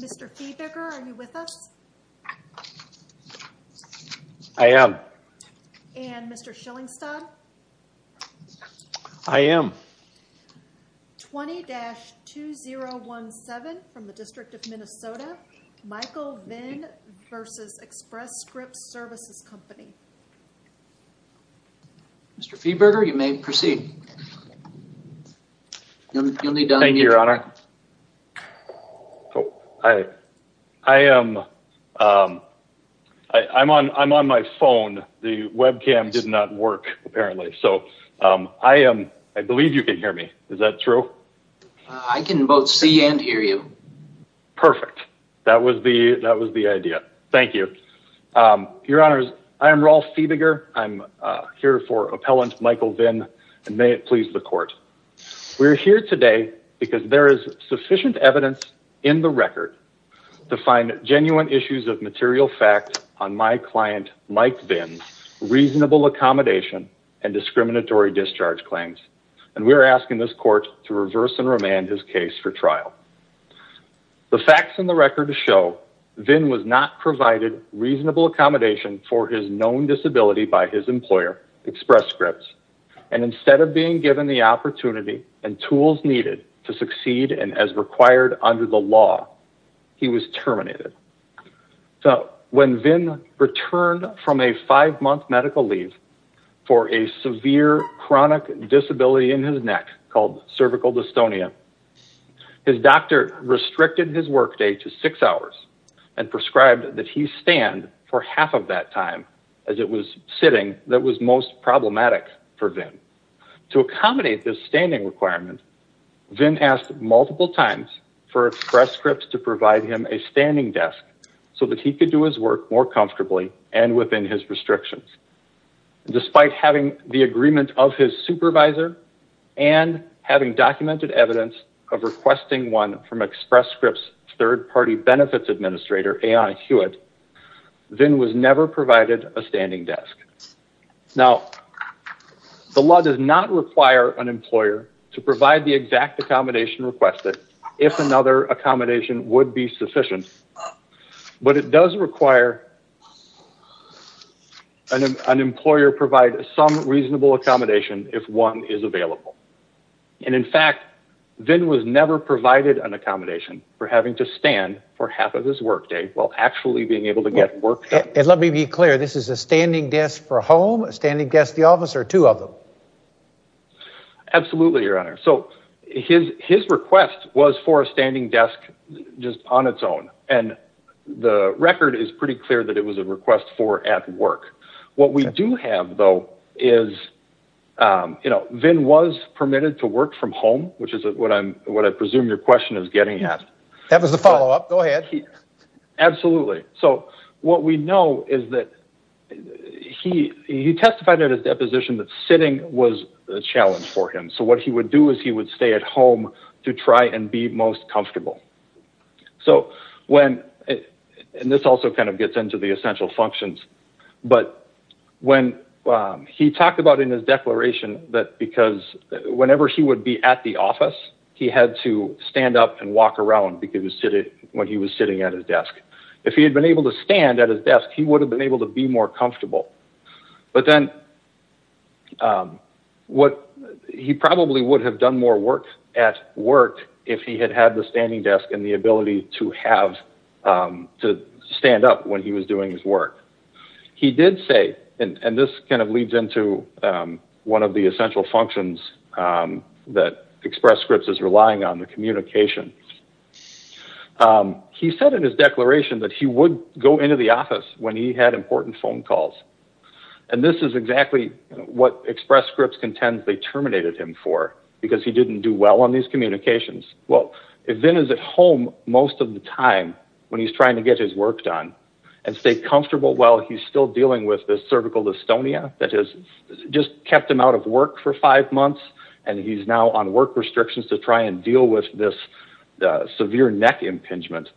Mr. Feeberger, are you with us? I am. And Mr. Schillingstad? I am. 20-2017 from the District of Minnesota, Michael Vinh v. Express Scripts Services Co. Mr. Feeberger, you may proceed. Thank you, Your Honor. I am. I'm on my phone. The webcam did not work, apparently. So, I believe you can hear me. Is that true? I can both see and hear you. Perfect. That was the idea. Thank you. Your Honor, I am Rolf Feeberger. I'm here for Appellant Michael Vinh, and may it please the find genuine issues of material fact on my client, Mike Vinh's, reasonable accommodation and discriminatory discharge claims. And we're asking this court to reverse and remand his case for trial. The facts in the record show Vinh was not provided reasonable accommodation for his known disability by his employer, Express Scripts. And instead of being given the opportunity and law, he was terminated. So, when Vinh returned from a five-month medical leave for a severe chronic disability in his neck called cervical dystonia, his doctor restricted his workday to six hours and prescribed that he stand for half of that time as it was sitting that was most to provide him a standing desk so that he could do his work more comfortably and within his restrictions. Despite having the agreement of his supervisor and having documented evidence of requesting one from Express Scripts third-party benefits administrator, A.I. Hewitt, Vinh was never provided a standing desk. Now, the law does not require an employer to provide the exact accommodation requested if another accommodation would be sufficient, but it does require an employer provide some reasonable accommodation if one is available. And in fact, Vinh was never provided an accommodation for having to stand for half of his workday while actually being able to get work done. And let me be clear, this is a standing desk for a home, standing desk the office, or two of them? Absolutely, your honor. So, his request was for a standing desk just on its own. And the record is pretty clear that it was a request for at work. What we do have, though, is, you know, Vinh was permitted to work from home, which is what I'm, what I presume your question is getting at. That was the follow-up. Go ahead. Absolutely. So, what we know is that he testified at his deposition that sitting was a challenge for him. So, what he would do is he would stay at home to try and be most comfortable. So, when, and this also kind of gets into the essential functions, but when he talked about in his declaration that because whenever he would be at the office, he had to stand up and walk around when he was sitting at his desk. If he had been able to stand at his desk, he would have been able to be more comfortable. But then, what, he probably would have done more work at work if he had had the standing desk and the ability to have, to stand up when he was doing his work. He did say, and this kind of leads into one of the essential functions that Express Scripts is providing. He said in his declaration that he would go into the office when he had important phone calls. And this is exactly what Express Scripts contends they terminated him for, because he didn't do well on these communications. Well, Vinh is at home most of the time when he's trying to get his work done and stay comfortable while he's still dealing with this cervical dystonia that has just kept him out of work for five months. And he's now on work restrictions to try and deal with this severe neck impingement.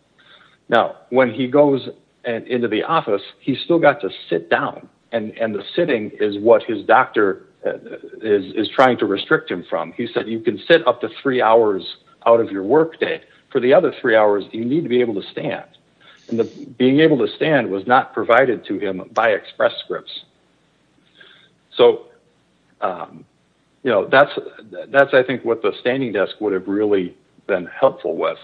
Now, when he goes into the office, he's still got to sit down. And the sitting is what his doctor is trying to restrict him from. He said, you can sit up to three hours out of your workday. For the other three hours, you need to be able to stand. And being able to stand was not provided to him by Express Scripts. So that's, I think, what the standing desk would have really been helpful with.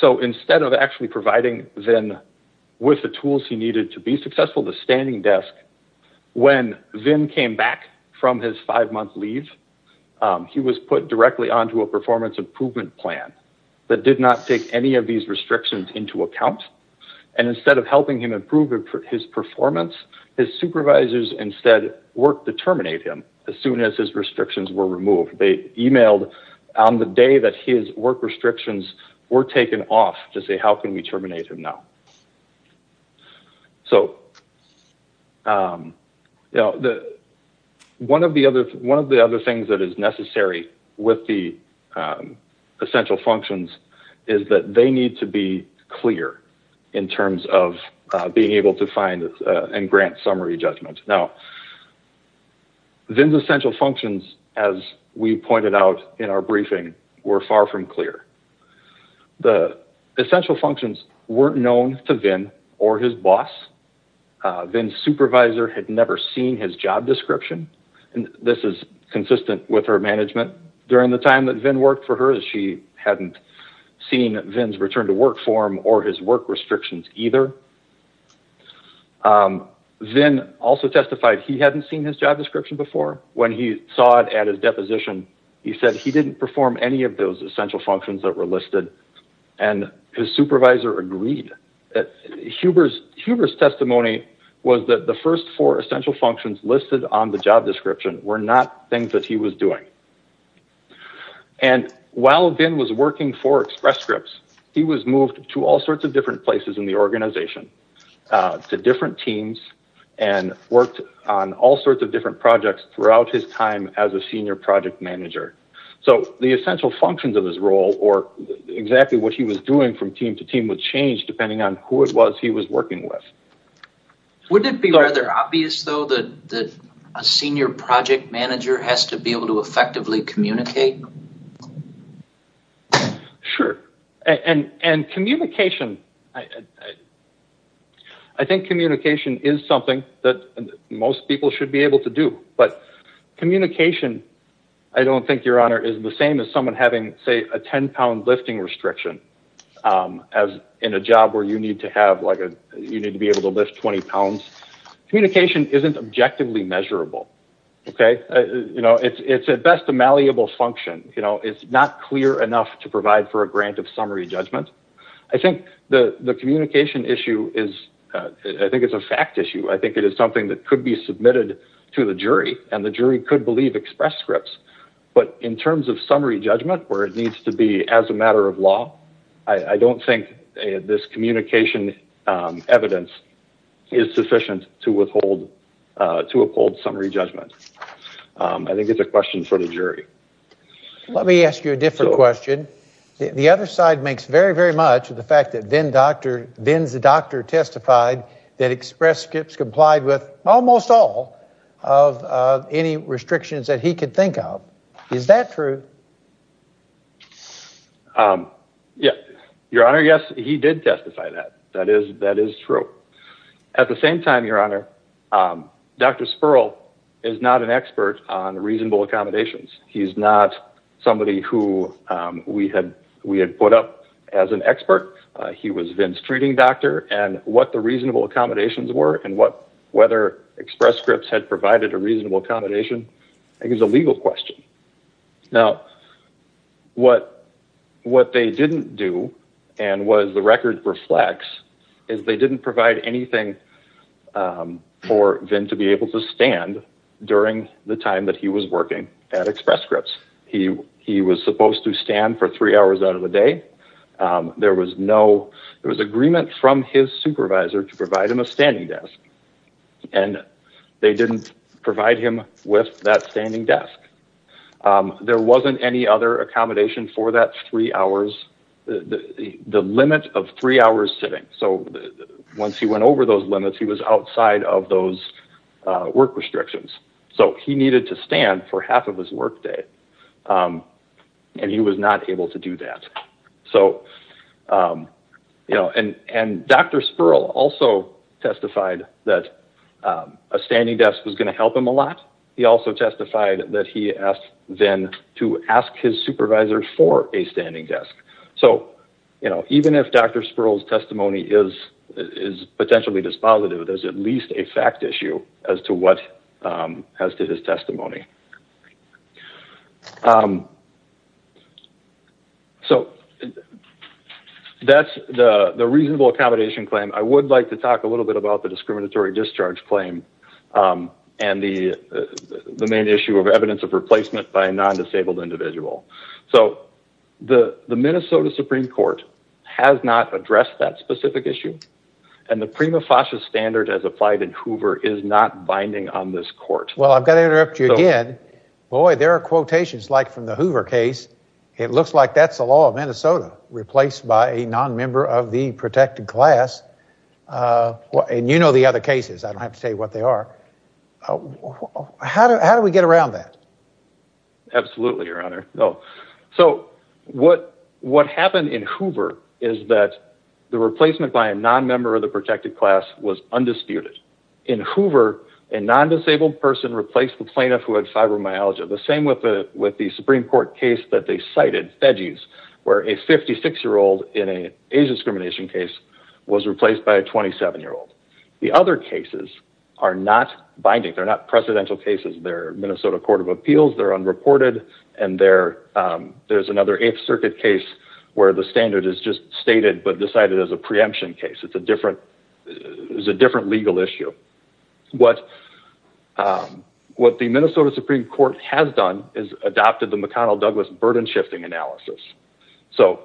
So instead of actually providing Vinh with the tools he needed to be successful, the standing desk, when Vinh came back from his five-month leave, he was put directly onto a performance improvement plan that did not take any of these restrictions into account. And instead of helping him improve his performance, his supervisors instead worked to terminate him as soon as his restrictions were removed. They emailed on the day that his work restrictions were taken off to say, how can we terminate him now? So one of the other things that is necessary with the functions is that they need to be clear in terms of being able to find and grant summary judgment. Now, Vinh's essential functions, as we pointed out in our briefing, were far from clear. The essential functions weren't known to Vinh or his boss. Vinh's supervisor had never seen his job description. And this is consistent with her management. During the time that Vinh worked for her, she hadn't seen Vinh's return to work form or his work restrictions either. Vinh also testified he hadn't seen his job description before. When he saw it at his deposition, he said he didn't perform any of those essential functions that were listed. And his supervisor agreed. Huber's testimony was that the first four essential functions listed on the job description were not things that he was doing. And while Vinh was working for Express Scripts, he was moved to all sorts of different places in the organization, to different teams, and worked on all sorts of different projects throughout his time as a senior project manager. So the essential functions of his role or exactly what he was doing from team to team would change depending on who it was he was working with. Wouldn't it be rather obvious, though, that a senior project manager has to be able to effectively communicate? Sure. And communication. I think communication is something that most people should be able to do. But communication, I don't think, Your Honor, is the same as someone having, say, a 10-pound lifting restriction as in a job where you need to be able to lift 20 pounds. Communication isn't objectively measurable. It's at best a malleable function. It's not clear enough to provide for a grant of summary judgment. I think the communication issue is, I think it's a fact issue. I think it is something that could be submitted to the jury, and the jury could believe Express Scripts. In terms of summary judgment where it needs to be as a matter of law, I don't think this communication evidence is sufficient to withhold summary judgment. I think it's a question for the jury. Let me ask you a different question. The other side makes very, very much of the fact that Vin's doctor testified that Express Scripts complied with almost all of any restrictions that he could think of. Is that true? Your Honor, yes, he did testify that. That is true. At the same time, Your Honor, Dr. Sperl is not an expert on reasonable accommodations. He's not somebody who we had put up as an expert. He was Vin's treating doctor, and what the reasonable accommodations were, and whether Express Scripts had provided a reasonable accommodation, I think is a legal question. Now, what they didn't do, and what the record reflects, is they didn't provide anything for Vin to be able to stand during the time that he was working at Express Scripts. He was supposed to stand for three hours out of the day. There was no, there was agreement from his supervisor to provide him a standing desk, and they didn't provide him with that standing desk. There wasn't any other accommodation for that three hours, the limit of three hours sitting. So, once he went over those limits, he was outside of those work restrictions. So, he needed to stand for half of his work day, and he was not able to do that. So, you know, and Dr. Sperl also testified that a standing desk was going to help him a lot. He also testified that he asked Vin to ask his supervisor for a standing desk. So, you know, even if Dr. Sperl's testimony is potentially dispositive, there's at least a fact issue as to his testimony. So, that's the reasonable accommodation claim. I would like to talk a little bit about the discriminatory discharge claim and the main issue of evidence of replacement by a non-disabled individual. So, the Minnesota Supreme Court has not addressed that specific issue, and the prima facie standard as applied in Hoover is not binding on this court. Well, I've got to interrupt you again. Boy, there are quotations like from the Hoover case. It looks like that's the law of Minnesota, replaced by a non-member of the protected class. And you know the other cases. I don't have to tell you what that is. Absolutely, Your Honor. So, what happened in Hoover is that the replacement by a non-member of the protected class was undisputed. In Hoover, a non-disabled person replaced the plaintiff who had fibromyalgia. The same with the Supreme Court case that they cited, Fedgies, where a 56-year-old in an age discrimination case was replaced by a 27-year-old. The other cases are not binding. They're Minnesota Court of Appeals. They're unreported, and there's another Eighth Circuit case where the standard is just stated but decided as a preemption case. It's a different legal issue. What the Minnesota Supreme Court has done is adopted the McDonnell-Douglas burden-shifting analysis. So,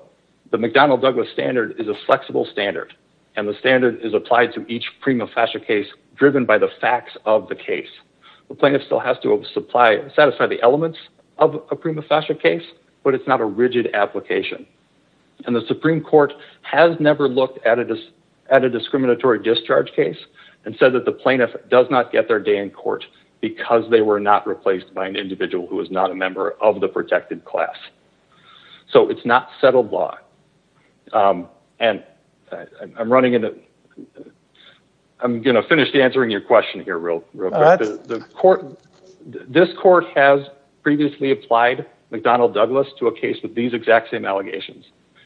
the McDonnell-Douglas standard is a flexible standard, and the standard is applied to each prima facie case driven by the facts of the case. The plaintiff still has to satisfy the elements of a prima facie case, but it's not a rigid application. And the Supreme Court has never looked at a discriminatory discharge case and said that the plaintiff does not get their day in court because they were not replaced by an individual who is not a member of the protected class. So, it's not settled law. And I'm running into... I'm going to finish answering your question here real quick. This court has previously applied McDonnell-Douglas to a case with these exact same allegations.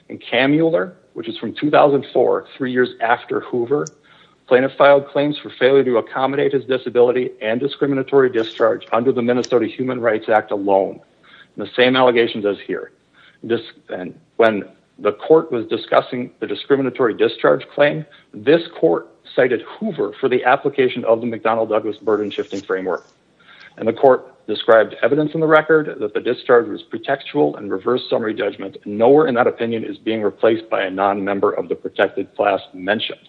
In Kamuller, which is from 2004, three years after Hoover, plaintiff filed claims for failure to accommodate his disability and the same allegations as here. When the court was discussing the discriminatory discharge claim, this court cited Hoover for the application of the McDonnell-Douglas burden-shifting framework. And the court described evidence in the record that the discharge was pretextual and reverse summary judgment. Nowhere in that opinion is being replaced by a non-member of the protected class mentioned.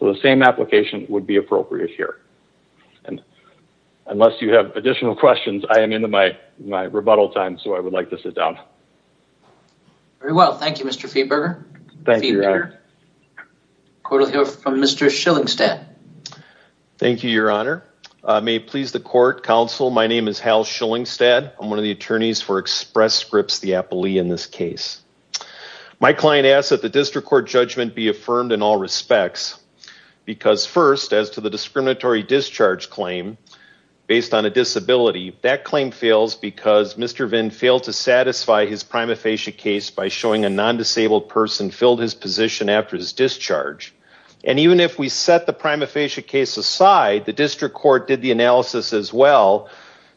So, the same application would be appropriate here. And unless you have additional questions, I am into my rebuttal time. So, I would like to sit down. Very well. Thank you, Mr. Feberger. Court will hear from Mr. Schillingstad. Thank you, Your Honor. May it please the court, counsel, my name is Hal Schillingstad. I'm one of the attorneys for Express Scripts, the appellee in this case. My client asks that the district court judgment be affirmed in all respects. Because first, as to the discriminatory discharge claim, based on a disability, that claim fails because Mr. Vinn failed to satisfy his prima facie case by showing a non-disabled person filled his position after his discharge. And even if we set the prima facie case aside, the district court did the analysis as well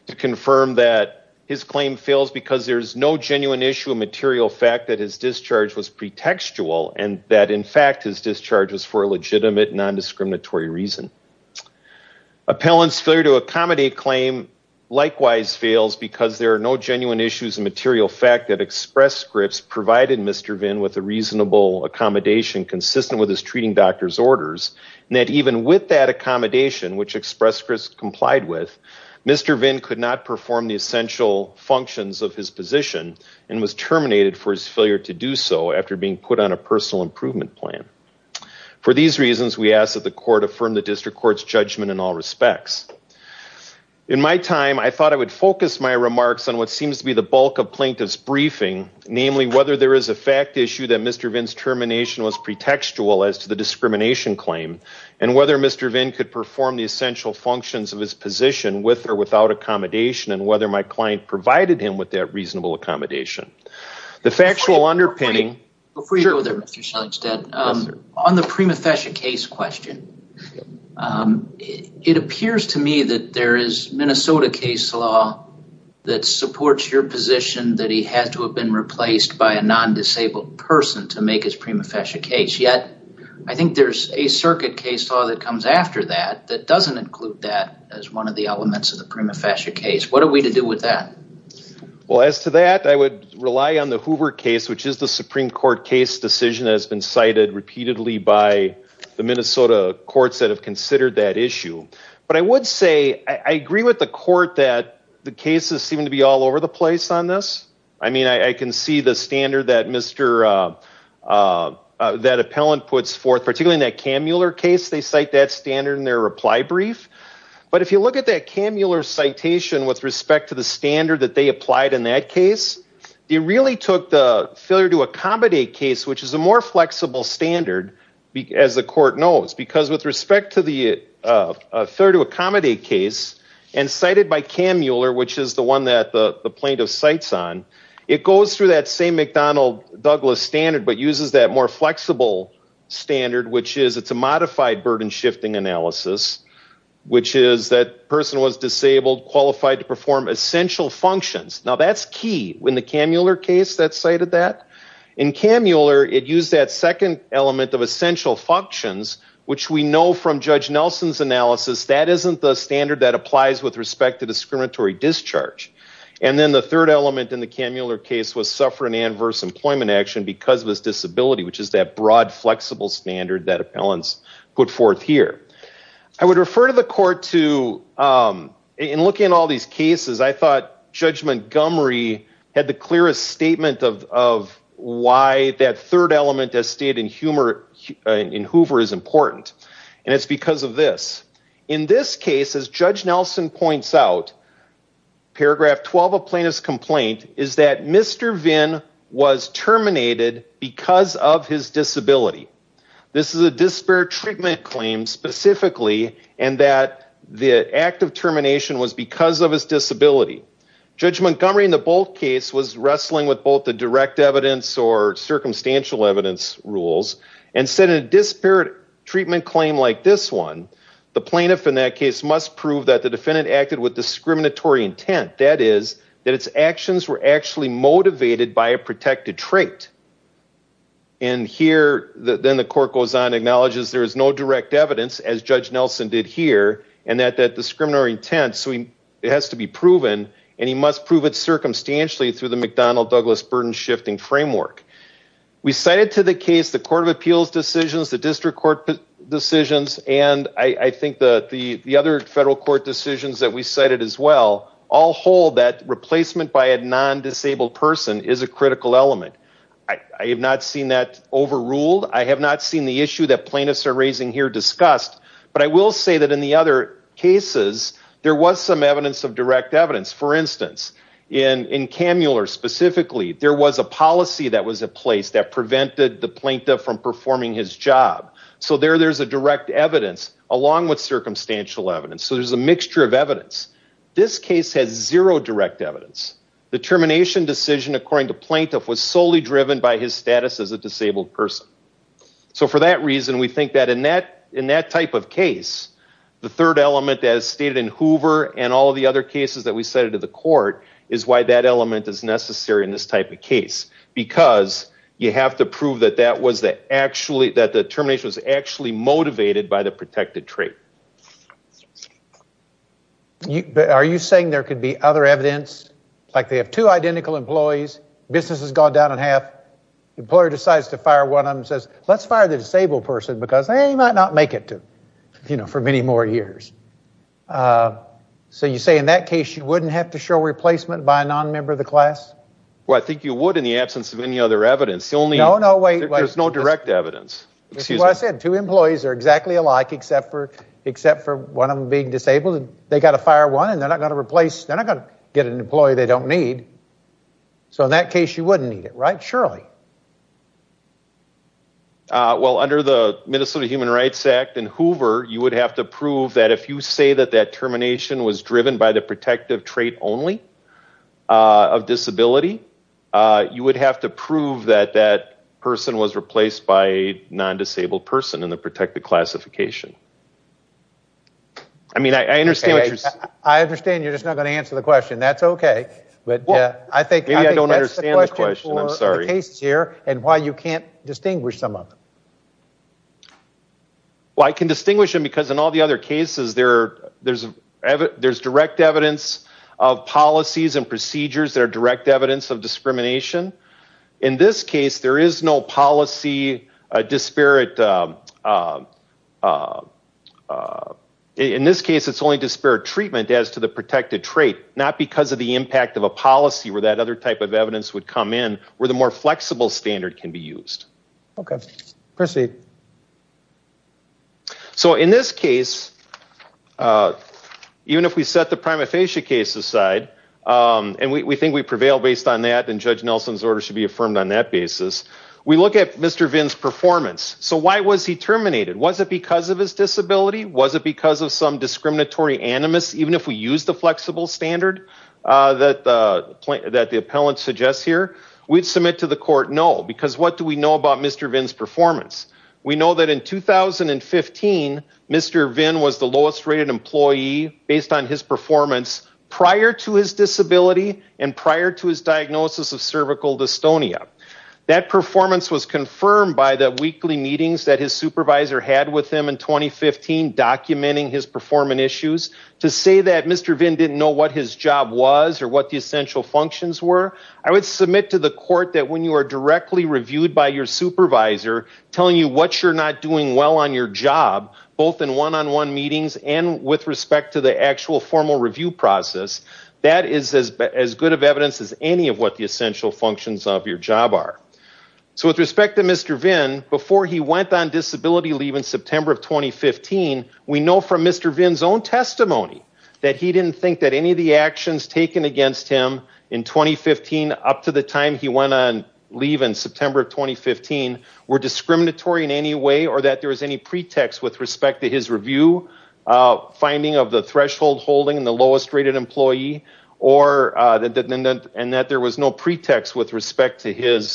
to confirm that his claim fails because there's no genuine issue of material fact that his discharge was pretextual and that in fact his discharge was for a legitimate non-discriminatory reason. Appellant's failure to accommodate claim likewise fails because there are no genuine issues of material fact that Express Scripts provided Mr. Vinn with a reasonable accommodation consistent with his treating doctor's orders and that even with that accommodation which Express Scripts complied with, Mr. Vinn could not perform the essential functions of his position and was terminated for his failure to do so after being put on a personal improvement plan. For these reasons, we ask that the court affirm the district court's judgment in all respects. In my time, I thought I would focus my remarks on what seems to be the bulk of plaintiff's briefing, namely whether there is a fact issue that Mr. Vinn's termination was pretextual as to the discrimination claim and whether Mr. Vinn could perform the essential functions of his position with or without accommodation and whether my client provided him with that reasonable accommodation. The factual underpinning... Before you go there, Mr. Shellingstead, on the prima facie case question, it appears to me that there is Minnesota case law that supports your position that he had to have been replaced by a non-disabled person to make his prima facie case, yet I think there's a circuit case law that comes after that that doesn't include that as one of the elements of the prima facie case. What are we to do with that? Well, as to that, I would rely on the Hoover case, which is the Supreme Court case decision that has been cited repeatedly by the Minnesota courts that have considered that issue. But I would say I agree with the court that the cases seem to be all over the place on this. I mean, I can see the standard that Mr. That appellant puts forth, particularly in that Kammuler case, they cite that standard in their reply brief. But if you look at that Kammuler citation with respect to the standard that they applied in that case, it really took the failure to accommodate case, which is a more flexible standard, as the court knows, because with respect to the failure to accommodate case, and cited by Kammuler, which is the one that the plaintiff cites on, it goes through that same McDonnell Douglas standard, but uses that more flexible standard, which is it's a modified burden shifting analysis, which is that person was disabled, qualified to perform essential functions. Now, that's key in the Kammuler case that cited that. In Kammuler, it used that second element of essential functions, which we know from Judge Nelson's analysis, that isn't the standard that applies with respect to discriminatory discharge. And then the third element in the Kammuler case was suffering adverse employment action because of his disability, which is that broad, flexible standard that appellants put forth here. I would refer to the court to, in looking at all these cases, I thought Judge Montgomery had the clearest statement of why that third element as stated in Hoover is important. And it's because of this. In this case, as Judge Nelson points out, paragraph 12 of plaintiff's complaint is that Mr. Vinn was terminated because of his disability. This is a disparate treatment claim specifically, and that the act of termination was because of his disability. Judge Montgomery in the Bolt case was wrestling with both the direct evidence or circumstantial evidence rules, and said in a disparate treatment claim like this one, the plaintiff in that case must prove that the defendant acted with discriminatory intent. That is, that its actions were actually motivated by a protected trait. And here, then the court goes on, acknowledges there is no direct evidence, as Judge Nelson did here, and that that discriminatory intent, it has to be proven, and he must prove it circumstantially through the McDonnell-Douglas burden-shifting framework. We cited to the case the Court of Appeals decisions, the District Court decisions, and I think the other federal court decisions that we cited as well, all hold that replacement by a non-disabled person is a critical element. I have not seen that overruled. I have not seen the issue that plaintiffs are raising here discussed, but I will say that in the other cases, there was some evidence of direct evidence. For instance, in Kammuler specifically, there was a policy that was in place that prevented the plaintiff from performing his job. So there, there's a direct evidence along with circumstantial evidence. So there's a mixture of evidence. This case has zero direct evidence. The termination decision, according to plaintiff, was solely driven by his status as a disabled person. So for that reason, we think that in that, in that type of case, the third element, as stated in Hoover and all of the other cases that we cited to the court, is why that element is necessary in this type of case, because you have to prove that that was the actually, that the termination was actually motivated by the protected trait. Are you saying there could be other evidence, like they have two identical employees, business has gone down in half, employer decides to fire one of them and says, let's fire the disabled person because they might not make it to, you know, for many more years. So you say in that case, you wouldn't have to show replacement by a non-member of the class? Well, I think you would in the absence of any other evidence. No, no, wait, wait. There's no direct evidence. Excuse me. Well, I said two employees are exactly alike, except for, except for one of them being disabled. They got to fire one and they're not going to replace, they're not going to get an employee they don't need. So in that case, you wouldn't need it, right? Surely. Well, under the Minnesota Human Rights Act and Hoover, you would have to prove that if you say that that termination was driven by the protective trait only of disability, you would have to prove that that person was replaced by a non-disabled person in the protected classification. I mean, I, I understand what you're saying. I understand you're just not going to answer the question. That's okay. But yeah, I think, maybe I don't understand the question. I'm sorry. Here and why you can't distinguish some of them. Well, I can distinguish them because in all the other cases there, there's, there's direct evidence of policies and procedures that are direct evidence of discrimination. In this case, there is no policy disparate. In this case, it's only disparate treatment as to the protected trait, not because of the impact of a policy where that other type of evidence would come in where the more flexible standard can be used. Okay. Proceed. So in this case, even if we set the prima facie case aside and we think we prevail based on that judge Nelson's order should be affirmed on that basis, we look at Mr. Vinn's performance. So why was he terminated? Was it because of his disability? Was it because of some discriminatory animus, even if we use the flexible standard that the, that the appellant suggests here? We'd submit to the court, no, because what do we know about Mr. Vinn's performance? We know that in 2015, Mr. Vinn was the lowest rated employee based on his performance prior to his disability and prior to his diagnosis of cervical dystonia. That performance was confirmed by the weekly meetings that his supervisor had with him in 2015 documenting his performance issues. To say that Mr. Vinn didn't know what his job was or what the essential functions were, I would submit to the court that when you are directly reviewed by your supervisor telling you what you're not doing well on your job, both in one-on-one meetings and with respect to the actual formal review process, that is as good of evidence as any of what the essential functions of your job are. So with respect to Mr. Vinn, before he went on disability leave in September of 2015, we know from Mr. Vinn's own testimony that he didn't think that any of the actions taken against him in 2015 up to the time he went on leave in September of 2015 were discriminatory in any way or that there was any pretext with respect to his review finding of the threshold holding and the lowest rated employee and that there was no pretext with respect to the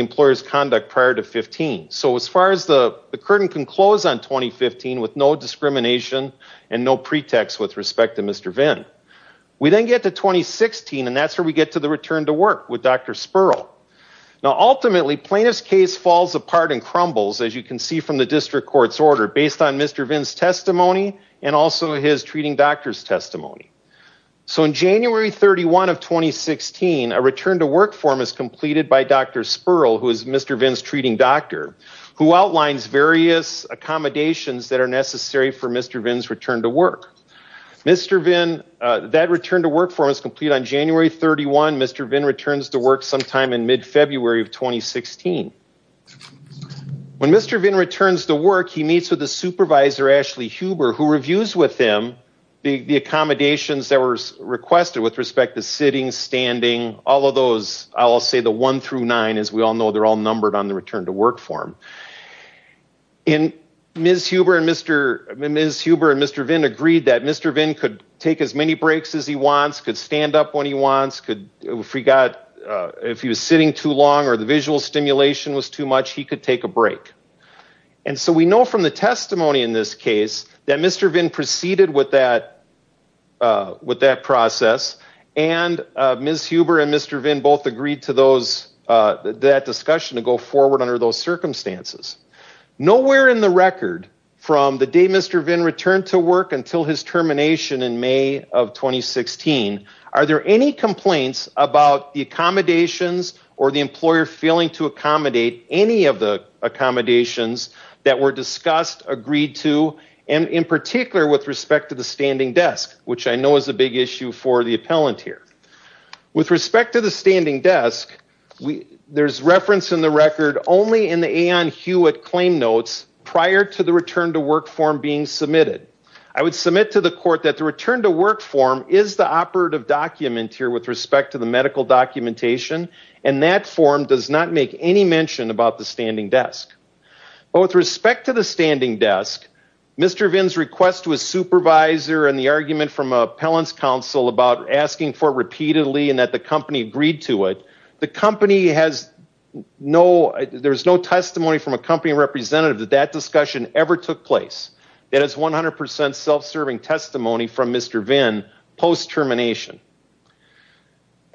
employer's conduct prior to 15. So as far as the curtain can close on 2015 with no discrimination and no pretext with respect to Mr. Vinn, we then get to 2016 and that's where we get to the return to work with Dr. Spurl. Now ultimately plaintiff's case falls apart and crumbles as you can see from the district court's order based on Mr. Vinn's testimony and also his treating doctor's testimony. So in January 31 of 2016, a return to work form is completed by Dr. Spurl, who is Mr. Vinn's treating doctor, who outlines various accommodations that are necessary for Mr. Vinn's return to work. Mr. Vinn, that return to work form is complete on January 31. Mr. Vinn returns to work sometime in mid-February of 2016. When Mr. Vinn returns to work, he meets with a supervisor, Ashley Huber, who reviews with him the accommodations that were requested with respect to sitting, standing, all of those, I'll say the one through nine, as we all know, they're all numbered on the return to work form. And Ms. Huber and Mr. Vinn agreed that Mr. Vinn could take as many breaks as he wants, could stand up when he wants, if he was sitting too long or the visual stimulation was too much, he could take a break. And so we know from the testimony in this case that Mr. Vinn proceeded with that process and Ms. Huber and Mr. Vinn both agreed to that discussion to go forward under those circumstances. Nowhere in the record from the day Mr. Vinn returned to work until his termination in May of 2016, are there any complaints about the accommodations or the employer failing to accommodate any of the accommodations that were discussed, agreed to, and in particular with respect to the standing desk, which I know is a big issue for the appellant here. With respect to the standing desk, there's reference in the record only in the Aon Hewitt claim notes prior to the return to work form being submitted. I would submit to the court that the return to work form is the operative document here with respect to the medical documentation and that form does not make any mention about the standing desk. But with respect to the standing desk, Mr. Vinn's request to his supervisor and the argument from appellant's counsel about asking for it repeatedly and that company agreed to it, the company has no ‑‑ there's no testimony from a company representative that that discussion ever took place. That is 100% self‑serving testimony from Mr. Vinn post‑termination.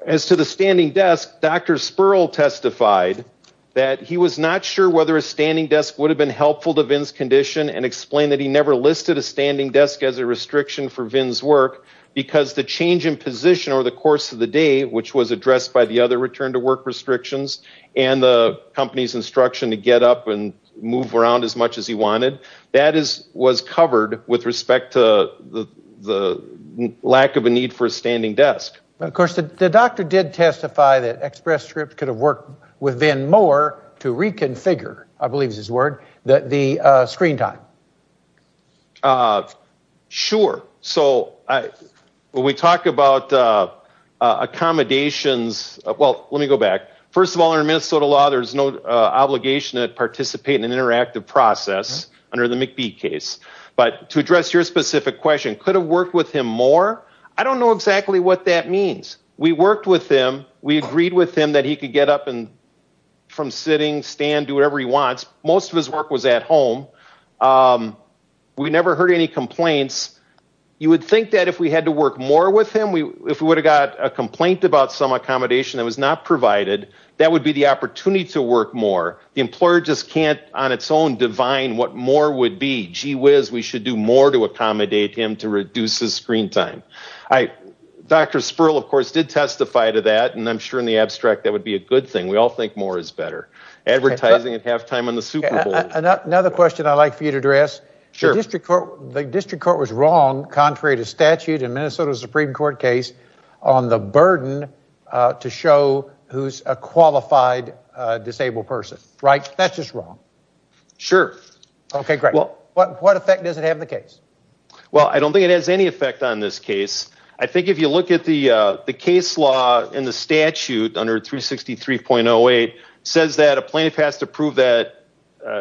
As to the standing desk, Dr. Sperl testified that he was not sure whether a standing desk would have been helpful to Vinn's condition and explained that he never listed a standing desk as a restriction for Vinn's work because the change in position over the course of the day, which was addressed by the other return to work restrictions and the company's instruction to get up and move around as much as he wanted, that was covered with respect to the lack of a need for a standing desk. Of course, the doctor did testify that Express Script could have worked with Vinn more to reconfigure, I believe is his word, the screen time. Sure. So when we talk about accommodations ‑‑ well, let me go back. First of all, under Minnesota law, there's no obligation to participate in an interactive process under the McBee case. But to address your specific question, could have worked with him more? I don't know exactly what that means. We worked with him. We agreed with him that he could get up from sitting, stand, do whatever he wants. Most of his work was at home. We never heard any complaints. You would think that if we had to work more with him, if we would have got a complaint about some accommodation that was not provided, that would be the opportunity to work more. The employer just can't on its own divine what more would be. Gee whiz, we should do more to accommodate him to reduce his screen time. Dr. Sperl, of course, did testify to that, I'm sure in the abstract that would be a good thing. We all think more is better. Advertising at halftime on the Super Bowl. Another question I'd like for you to address, the district court was wrong, contrary to statute in Minnesota Supreme Court case, on the burden to show who's a qualified disabled person. Right? That's just wrong. Sure. Okay, great. What effect does it have on the case? Well, I don't think it has any effect on this case. I think if you look at the case law in the statute under 363.08, says that a plaintiff has to prove that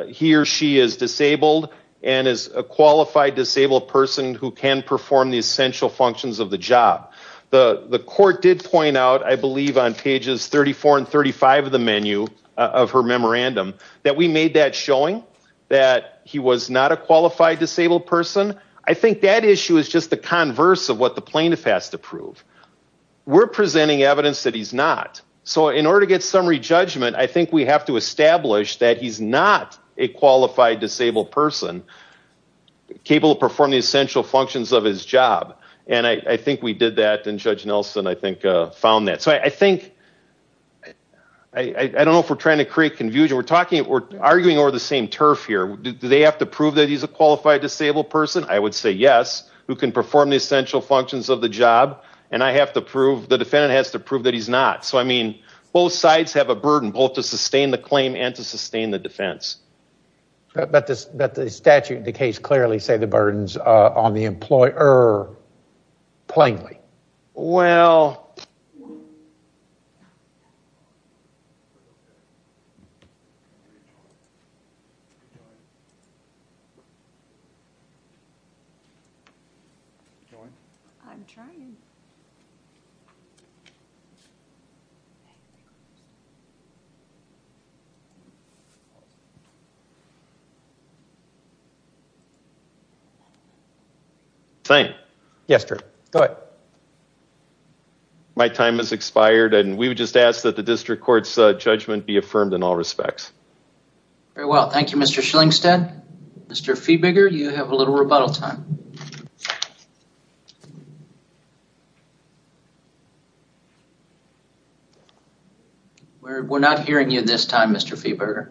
he or she is disabled and is a qualified disabled person who can perform the essential functions of the job. The court did point out, I believe on pages 34 and 35 of the menu of her memorandum, that we made that showing that he was not a qualified disabled person. I think that issue is just the converse of what the plaintiff has to prove. We're presenting evidence that he's not. So in order to get summary judgment, I think we have to establish that he's not a qualified disabled person capable of performing the essential functions of his job. And I think we did that and Judge Nelson, I think, found that. So I think, I don't know if we're trying to create confusion, we're arguing over the same turf here. Do they have to prove that he's a qualified disabled person? I would say yes, who can perform the essential functions of the job. And I have to prove, the defendant has to prove that he's not. So I mean, both sides have a burden, both to sustain the claim and to sustain the defense. But the statute and the case clearly say the same thing. Thank you. Yes, sir. Go ahead. My time has expired and we would just ask that the district court's in all respects. Very well. Thank you, Mr. Shillingstead. Mr. Feeberger, you have a little rebuttal time. We're not hearing you this time, Mr. Feeberger.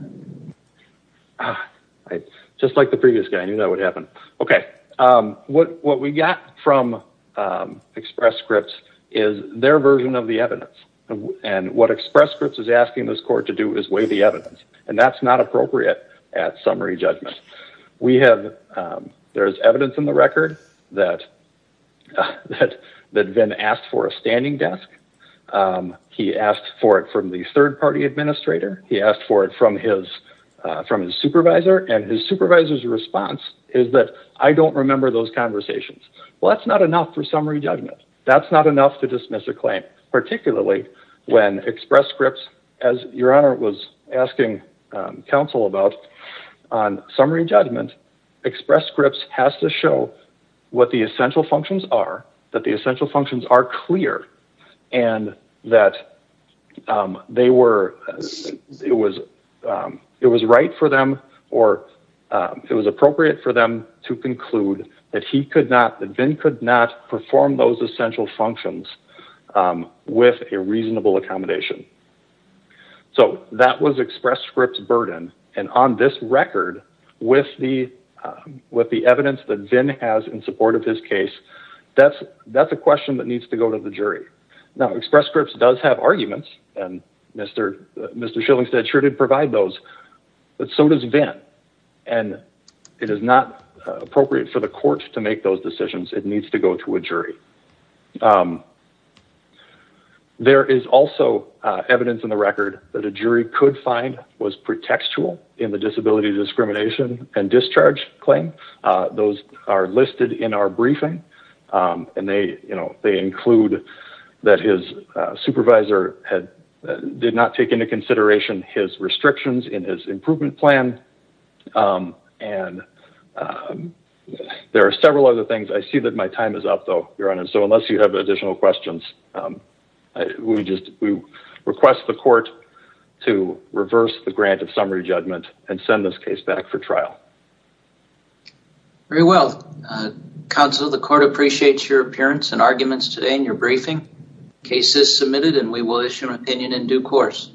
Just like the previous guy, I knew that would happen. Okay. What we got from Express Scripts is their version of the evidence. And what Express Scripts is asking this court to do is weigh the evidence. And that's not appropriate at summary judgment. There's evidence in the record that Vin asked for a standing desk. He asked for it from the third party administrator. He asked for it from his supervisor. And his supervisor's response is that, I don't remember those conversations. Well, that's not enough for summary judgment. That's not enough to dismiss a claim, particularly when Express Scripts, as your honor was asking counsel about on summary judgment, Express Scripts has to show what the essential functions are, that the essential functions are clear and that it was right for them or it was appropriate for them to conclude that he could not, that Vin could not perform those essential functions with a reasonable accommodation. So that was Express Scripts' burden. And on this record, with the evidence that Vin has in support of his case, that's a question that needs to go to the jury. Now, Express Scripts does have arguments and Mr. Shillingstead sure did provide those. But so does Vin. And it is not appropriate for the court to make those decisions. It needs to go to a jury. There is also evidence in the record that a jury could find was pretextual in the disability discrimination and discharge claim. Those are listed in our briefing. And they include that his supervisor did not take into consideration his restrictions in his improvement plan. And there are several other things. I see that my time is up though, your honor. So unless you have additional questions, we request the court to reverse the grant of your time. The court appreciates your appearance and arguments today in your briefing. Case is submitted and we will issue an opinion in due course.